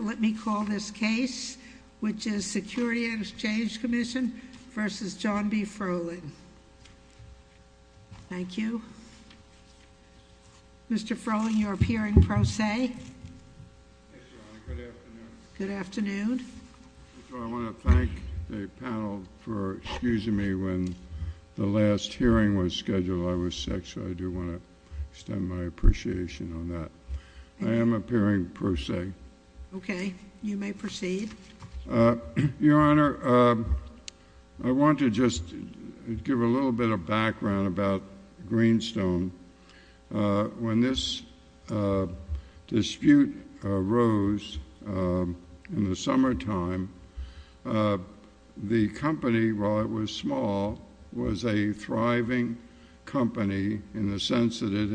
Let me call this case, which is Security and Exchange Commission versus John B. Froling. Thank you. Mr. Froling, you're appearing pro se. Yes, Your Honor. Good afternoon. Good afternoon. I want to thank the panel for excusing me when the last hearing was scheduled. I was sick, so I do want to extend my appreciation on that. I am appearing pro se. Okay. You may proceed. Your Honor, I want to just give a little bit of background about Greenstone. When this dispute arose in the summertime, the company, while it was small, was a thriving company in the sense that it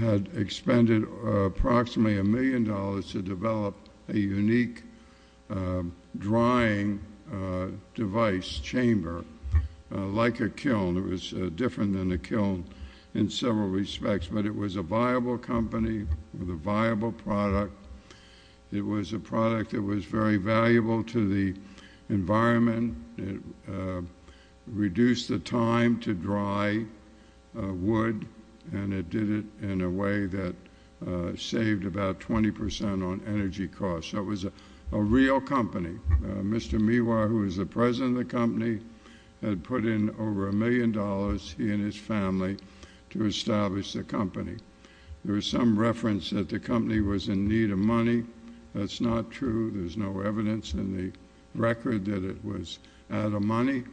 had expended approximately a million dollars to develop a unique drying device chamber, like a kiln. It was different than a kiln in several respects, but it was a viable company with a viable product. It was a product that was very valuable to the environment. It reduced the time to dry wood, and it did it in a way that saved about 20 percent on energy costs. So it was a real company. Mr. Miwar, who was the president of the company, had put in over a million dollars, he and his family, to establish the company. There is some reference that the company was in need of money. That's not true. There's no evidence in the record that it was out of money.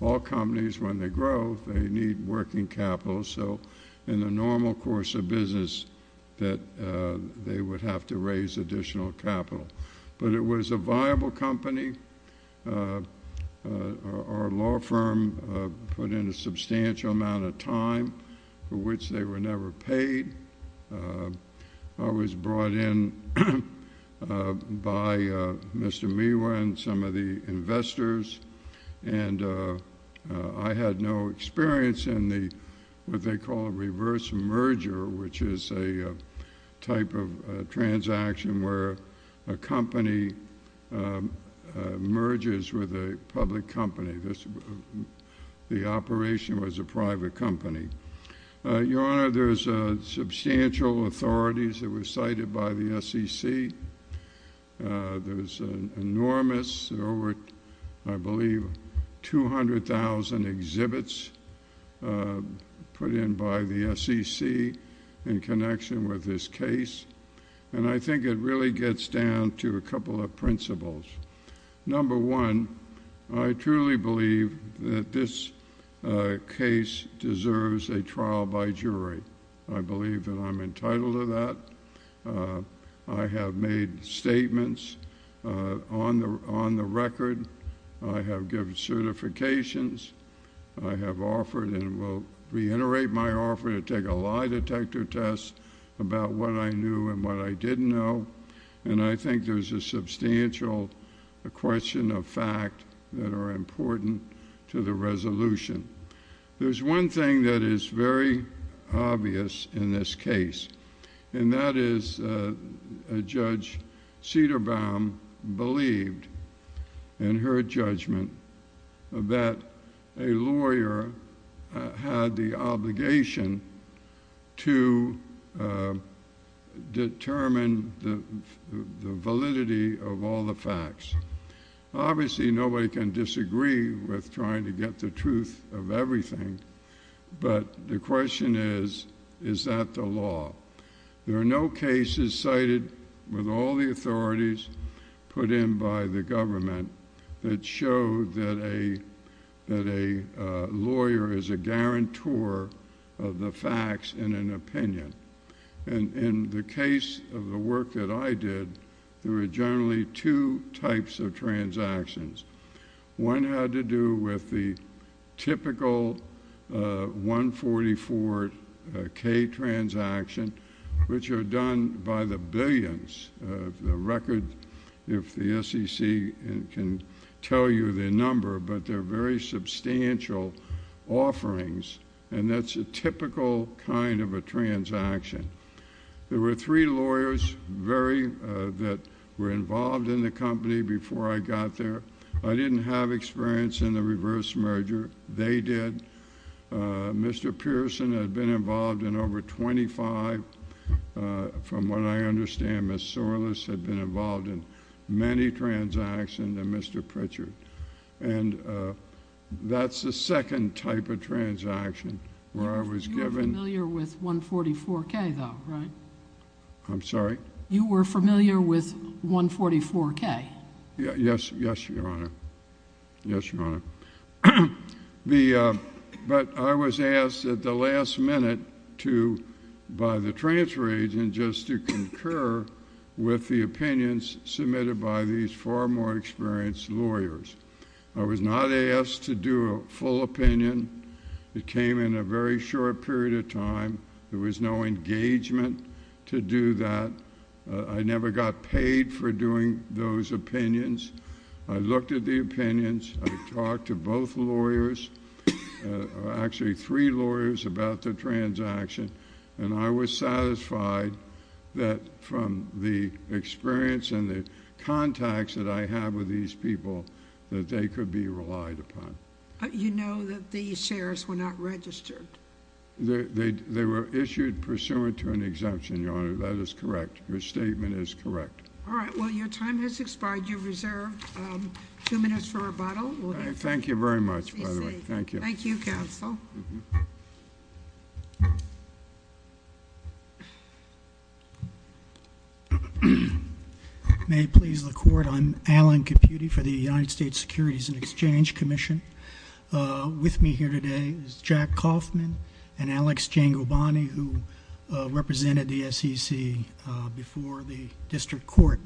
All companies, when they grow, they need working capital, so in the normal course of business that they would have to raise additional capital. But it was a viable company. Our law firm put in a substantial amount of time for which they were never paid. I was brought in by Mr. Miwar and some of the investors, and I had no experience in what they call a reverse merger, which is a type of transaction where a company merges with a public company. The operation was a private company. Your Honor, there's substantial authorities that were cited by the SEC. There's an enormous, over, I believe, 200,000 exhibits put in by the SEC in connection with this case, and I think it really gets down to a couple of principles. Number one, I truly believe that this case deserves a trial by jury. I believe that I'm entitled to that. I have made statements on the record. I have given certifications. I have offered and will reiterate my offer to take a lie detector test about what I knew and what I didn't know, and I think there's a substantial question of fact that are important to the resolution. There's one thing that is very obvious in this case, and that is Judge Cederbaum believed in her judgment that a lawyer had the obligation to determine the validity of all the facts. Obviously, nobody can disagree with trying to get the truth of everything, but the question is, is that the law? There are no cases cited with all the authorities put in by the government that show that a lawyer is a guarantor of the facts in an opinion. In the case of the work that I did, there were generally two types of transactions. One had to do with the typical 144K transaction, which are done by the billions of the record, if the SEC can tell you the number, but they're very substantial offerings, and that's a typical kind of a transaction. There were three lawyers that were involved in the company before I got there. I didn't have experience in the reverse merger. They did. Mr. Pearson had been involved in over 25. From what I understand, Ms. Sorles had been involved in many transactions, and Mr. Pritchard. That's the second type of transaction where I was given... You were familiar with 144K, though, right? I'm sorry? You were familiar with 144K? Yes, Your Honor. But I was asked at the last minute by the transfer agent just to concur with the opinions submitted by these far more experienced lawyers. I was not asked to do a full opinion. It came in a very short period of time. There was no engagement to do that. I never got paid for doing those opinions. I looked at the opinions. I talked to both lawyers, actually three lawyers, about the transaction, and I was satisfied that from the experience and the contacts that I have with these people, that they could be relied upon. You know that these shares were not registered? They were issued pursuant to an exemption, Your Honor. That is correct. Your statement is correct. All right. Well, your time has expired. You have reserved two minutes for rebuttal. Thank you very much, by the way. Thank you. Thank you, counsel. May it please the Court, I'm Alan Caputi for the United States Securities and Exchange Commission. With me here today is Jack Kaufman and Alex Gengobani, who represented the SEC before the district court.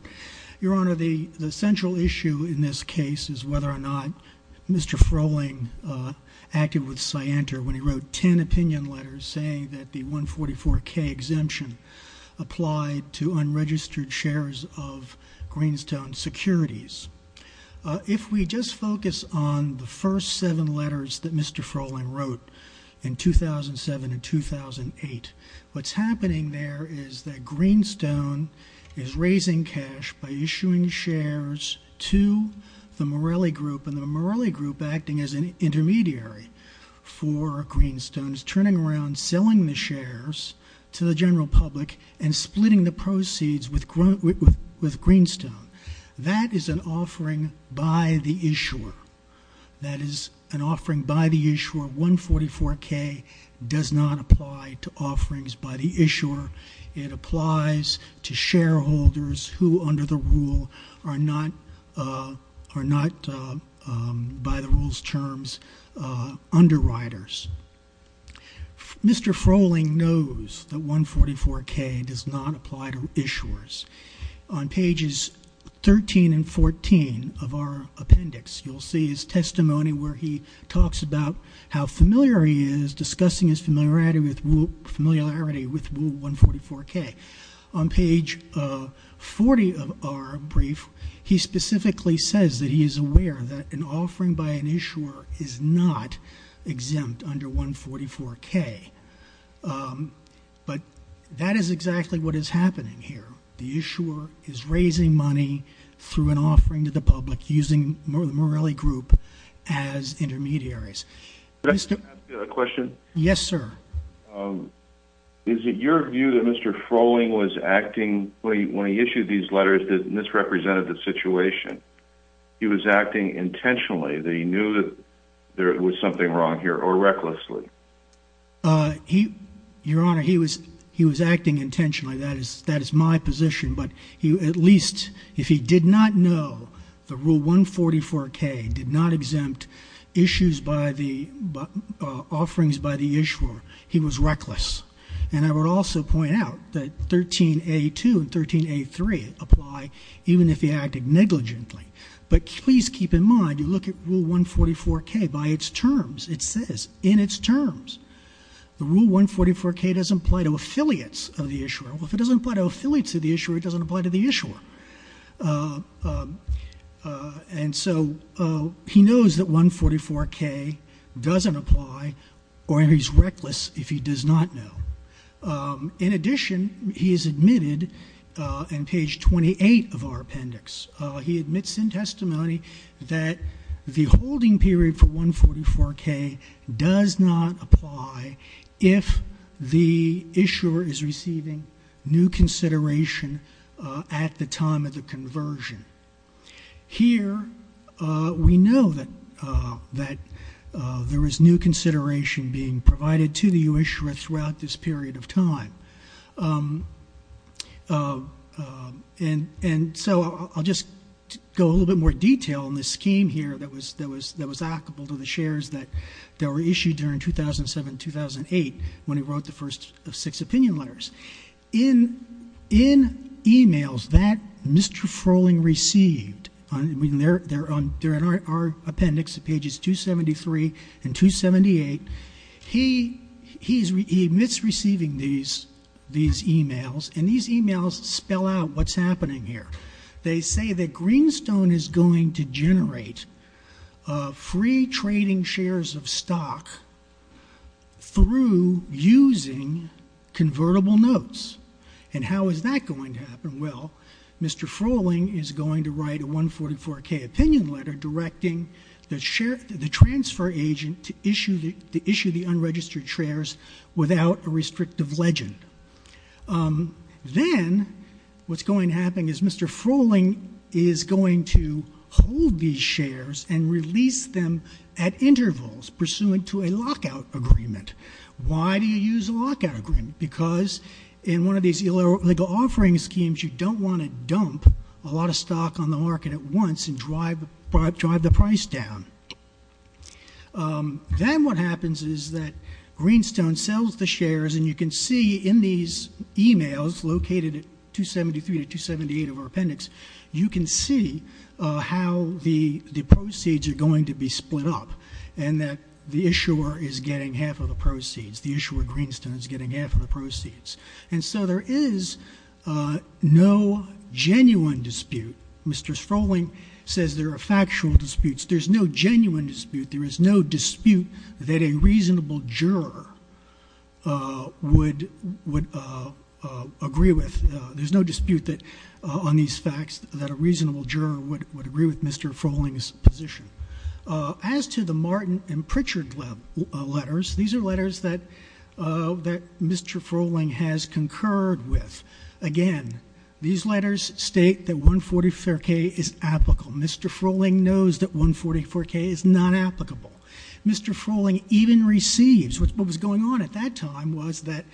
Your Honor, the central issue in this case is whether or not Mr. Froehling acted with scienter when he wrote ten opinion letters saying that the 144K exemption applied to unregistered shares of Greenstone Securities. If we just focus on the first seven letters that Mr. Froehling wrote in 2007 and 2008, what's happening there is that Greenstone is raising cash by issuing shares to the Morelli Group, and the Morelli Group, acting as an intermediary for Greenstone, is turning around, selling the shares to the general public, and splitting the proceeds with Greenstone. That is an offering by the issuer. 144K does not apply to offerings by the issuer. It applies to shareholders who, under the rule, are not, by the rule's terms, underwriters. Mr. Froehling knows that 144K does not apply to issuers. On pages 13 and 14 of our appendix, you'll see his testimony where he talks about how familiar he is, discussing his familiarity with rule 144K. On page 40 of our brief, he specifically says that he is aware that an offering by an issuer is not exempt under 144K. But that is exactly what is happening here. The issuer is raising money through an offering to the public using the Morelli Group as intermediaries. Could I ask you a question? Yes, sir. Is it your view that Mr. Froehling was acting, when he issued these letters, that misrepresented the situation? He was acting intentionally, that he knew that there was something wrong here, or recklessly? Your Honor, he was acting intentionally. That is my position. But at least if he did not know that rule 144K did not exempt issues by the offerings by the issuer, he was reckless. And I would also point out that 13A2 and 13A3 apply even if he acted negligently. But please keep in mind, you look at rule 144K by its terms. It says, in its terms, the rule 144K doesn't apply to affiliates of the issuer. Well, if it doesn't apply to affiliates of the issuer, it doesn't apply to the issuer. And so he knows that 144K doesn't apply, or he's reckless if he does not know. In addition, he has admitted in page 28 of our appendix, he admits in testimony that the holding period for 144K does not apply if the issuer is receiving new consideration at the time of the conversion. Here, we know that there is new consideration being provided to the issuer throughout this period of time. And so I'll just go a little bit more detail on this scheme here that was applicable to the shares that were issued during 2007-2008 when he wrote the first six opinion letters. In emails that Mr. Froehling received, I mean, they're in our appendix at pages 273 and 278. He admits receiving these emails, and these emails spell out what's happening here. They say that Greenstone is going to generate free trading shares of stock through using convertible notes. And how is that going to happen? Well, Mr. Froehling is going to write a 144K opinion letter directing the transfer agent to issue the unregistered shares without a restrictive legend. Then what's going to happen is Mr. Froehling is going to hold these shares and release them at intervals pursuant to a lockout agreement. Why do you use a lockout agreement? Because in one of these illegal offering schemes, you don't want to dump a lot of stock on the market at once and drive the price down. Then what happens is that Greenstone sells the shares, and you can see in these emails located at 273 and 278 of our appendix, you can see how the proceeds are going to be split up and that the issuer is getting half of the proceeds. The issuer at Greenstone is getting half of the proceeds. And so there is no genuine dispute. Mr. Froehling says there are factual disputes. There's no genuine dispute. There is no dispute that a reasonable juror would agree with. There's no dispute on these facts that a reasonable juror would agree with Mr. Froehling's position. As to the Martin and Pritchard letters, these are letters that Mr. Froehling has concurred with. Again, these letters state that 144K is applicable. Mr. Froehling knows that 144K is not applicable. Mr. Froehling even receives, what was going on at that time was that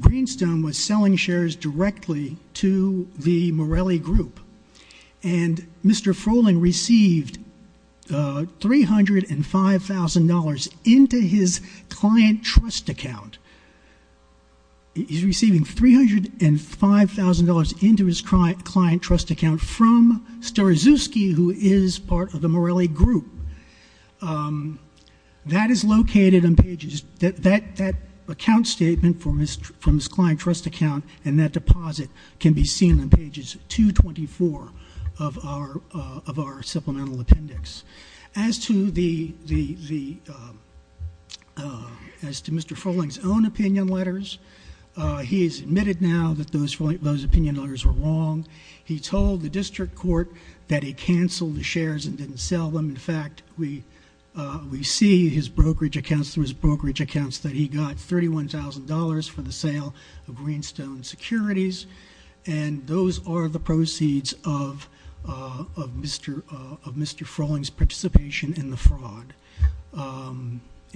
Greenstone was selling shares directly to the Morelli Group. And Mr. Froehling received $305,000 into his client trust account. He's receiving $305,000 into his client trust account from Starizewski, who is part of the Morelli Group. That account statement from his client trust account and that deposit can be seen on pages 224 of our supplemental appendix. As to Mr. Froehling's own opinion letters, he's admitted now that those opinion letters were wrong. He told the district court that he canceled the shares and didn't sell them. In fact, we see his brokerage accounts that he got $31,000 for the sale of Greenstone Securities. And those are the proceeds of Mr. Froehling's participation in the fraud.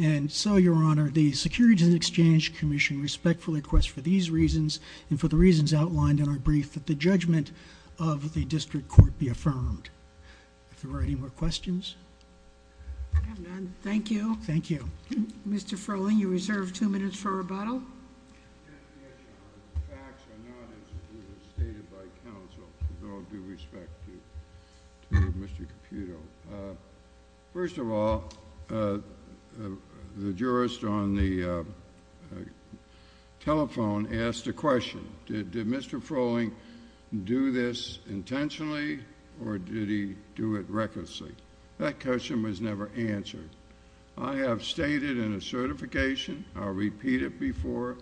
And so, Your Honor, the Securities and Exchange Commission respectfully requests for these reasons and for the reasons outlined in our brief that the judgment of the district court be affirmed. Are there any more questions? I have none. Thank you. Thank you. Mr. Froehling, you're reserved two minutes for rebuttal. Yes, Your Honor. The facts are not as stated by counsel, with all due respect to Mr. Caputo. First of all, the jurist on the telephone asked a question. Did Mr. Froehling do this intentionally or did he do it recklessly? That question was never answered. I have stated in a certification, I'll repeat it before,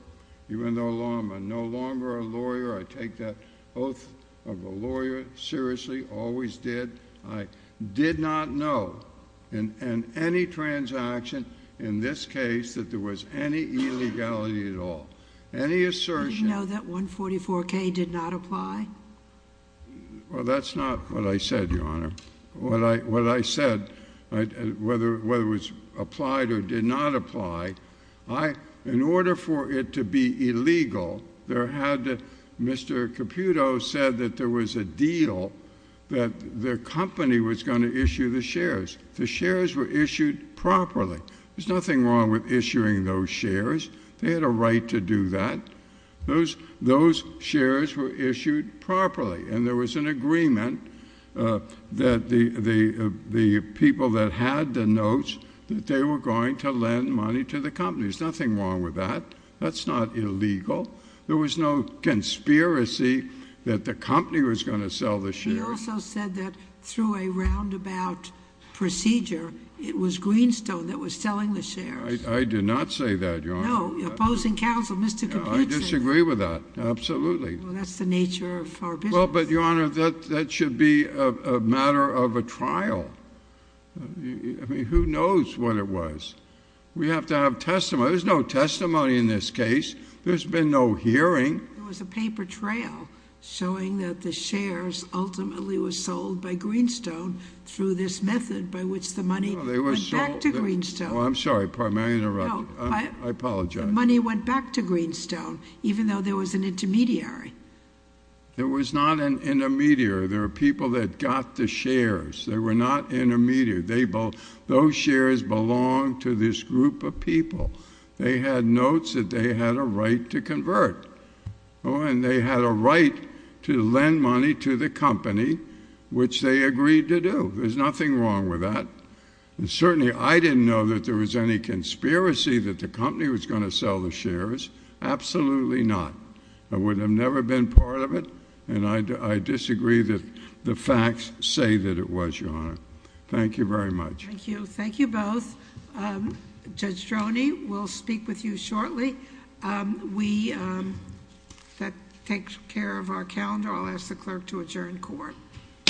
even though I'm no longer a lawyer, I take that oath of a lawyer seriously, always did. I did not know in any transaction in this case that there was any illegality at all. Any assertion- Did you know that $144K did not apply? Well, that's not what I said, Your Honor. What I said, whether it was applied or did not apply, in order for it to be illegal, there had to- Mr. Caputo said that there was a deal that their company was going to issue the shares. The shares were issued properly. There's nothing wrong with issuing those shares. They had a right to do that. Those shares were issued properly. And there was an agreement that the people that had the notes, that they were going to lend money to the company. There's nothing wrong with that. That's not illegal. There was no conspiracy that the company was going to sell the shares. He also said that through a roundabout procedure, it was Greenstone that was selling the shares. I did not say that, Your Honor. No, opposing counsel, Mr. Caputo said that. I disagree with that, absolutely. Well, that's the nature of our business. Well, but, Your Honor, that should be a matter of a trial. I mean, who knows what it was? We have to have testimony. There's no testimony in this case. There's been no hearing. There was a paper trail showing that the shares ultimately were sold by Greenstone through this method by which the money went back to Greenstone. Well, I'm sorry. Pardon me. I interrupted. I apologize. The money went back to Greenstone, even though there was an intermediary. There was not an intermediary. There were people that got the shares. They were not intermediaries. Those shares belonged to this group of people. They had notes that they had a right to convert. Oh, and they had a right to lend money to the company, which they agreed to do. There's nothing wrong with that. Certainly, I didn't know that there was any conspiracy that the company was going to sell the shares. Absolutely not. I would have never been part of it, and I disagree that the facts say that it was, Your Honor. Thank you very much. Thank you. Thank you both. Judge Stroni, we'll speak with you shortly. That takes care of our calendar. I'll ask the clerk to adjourn court. Court is adjourned.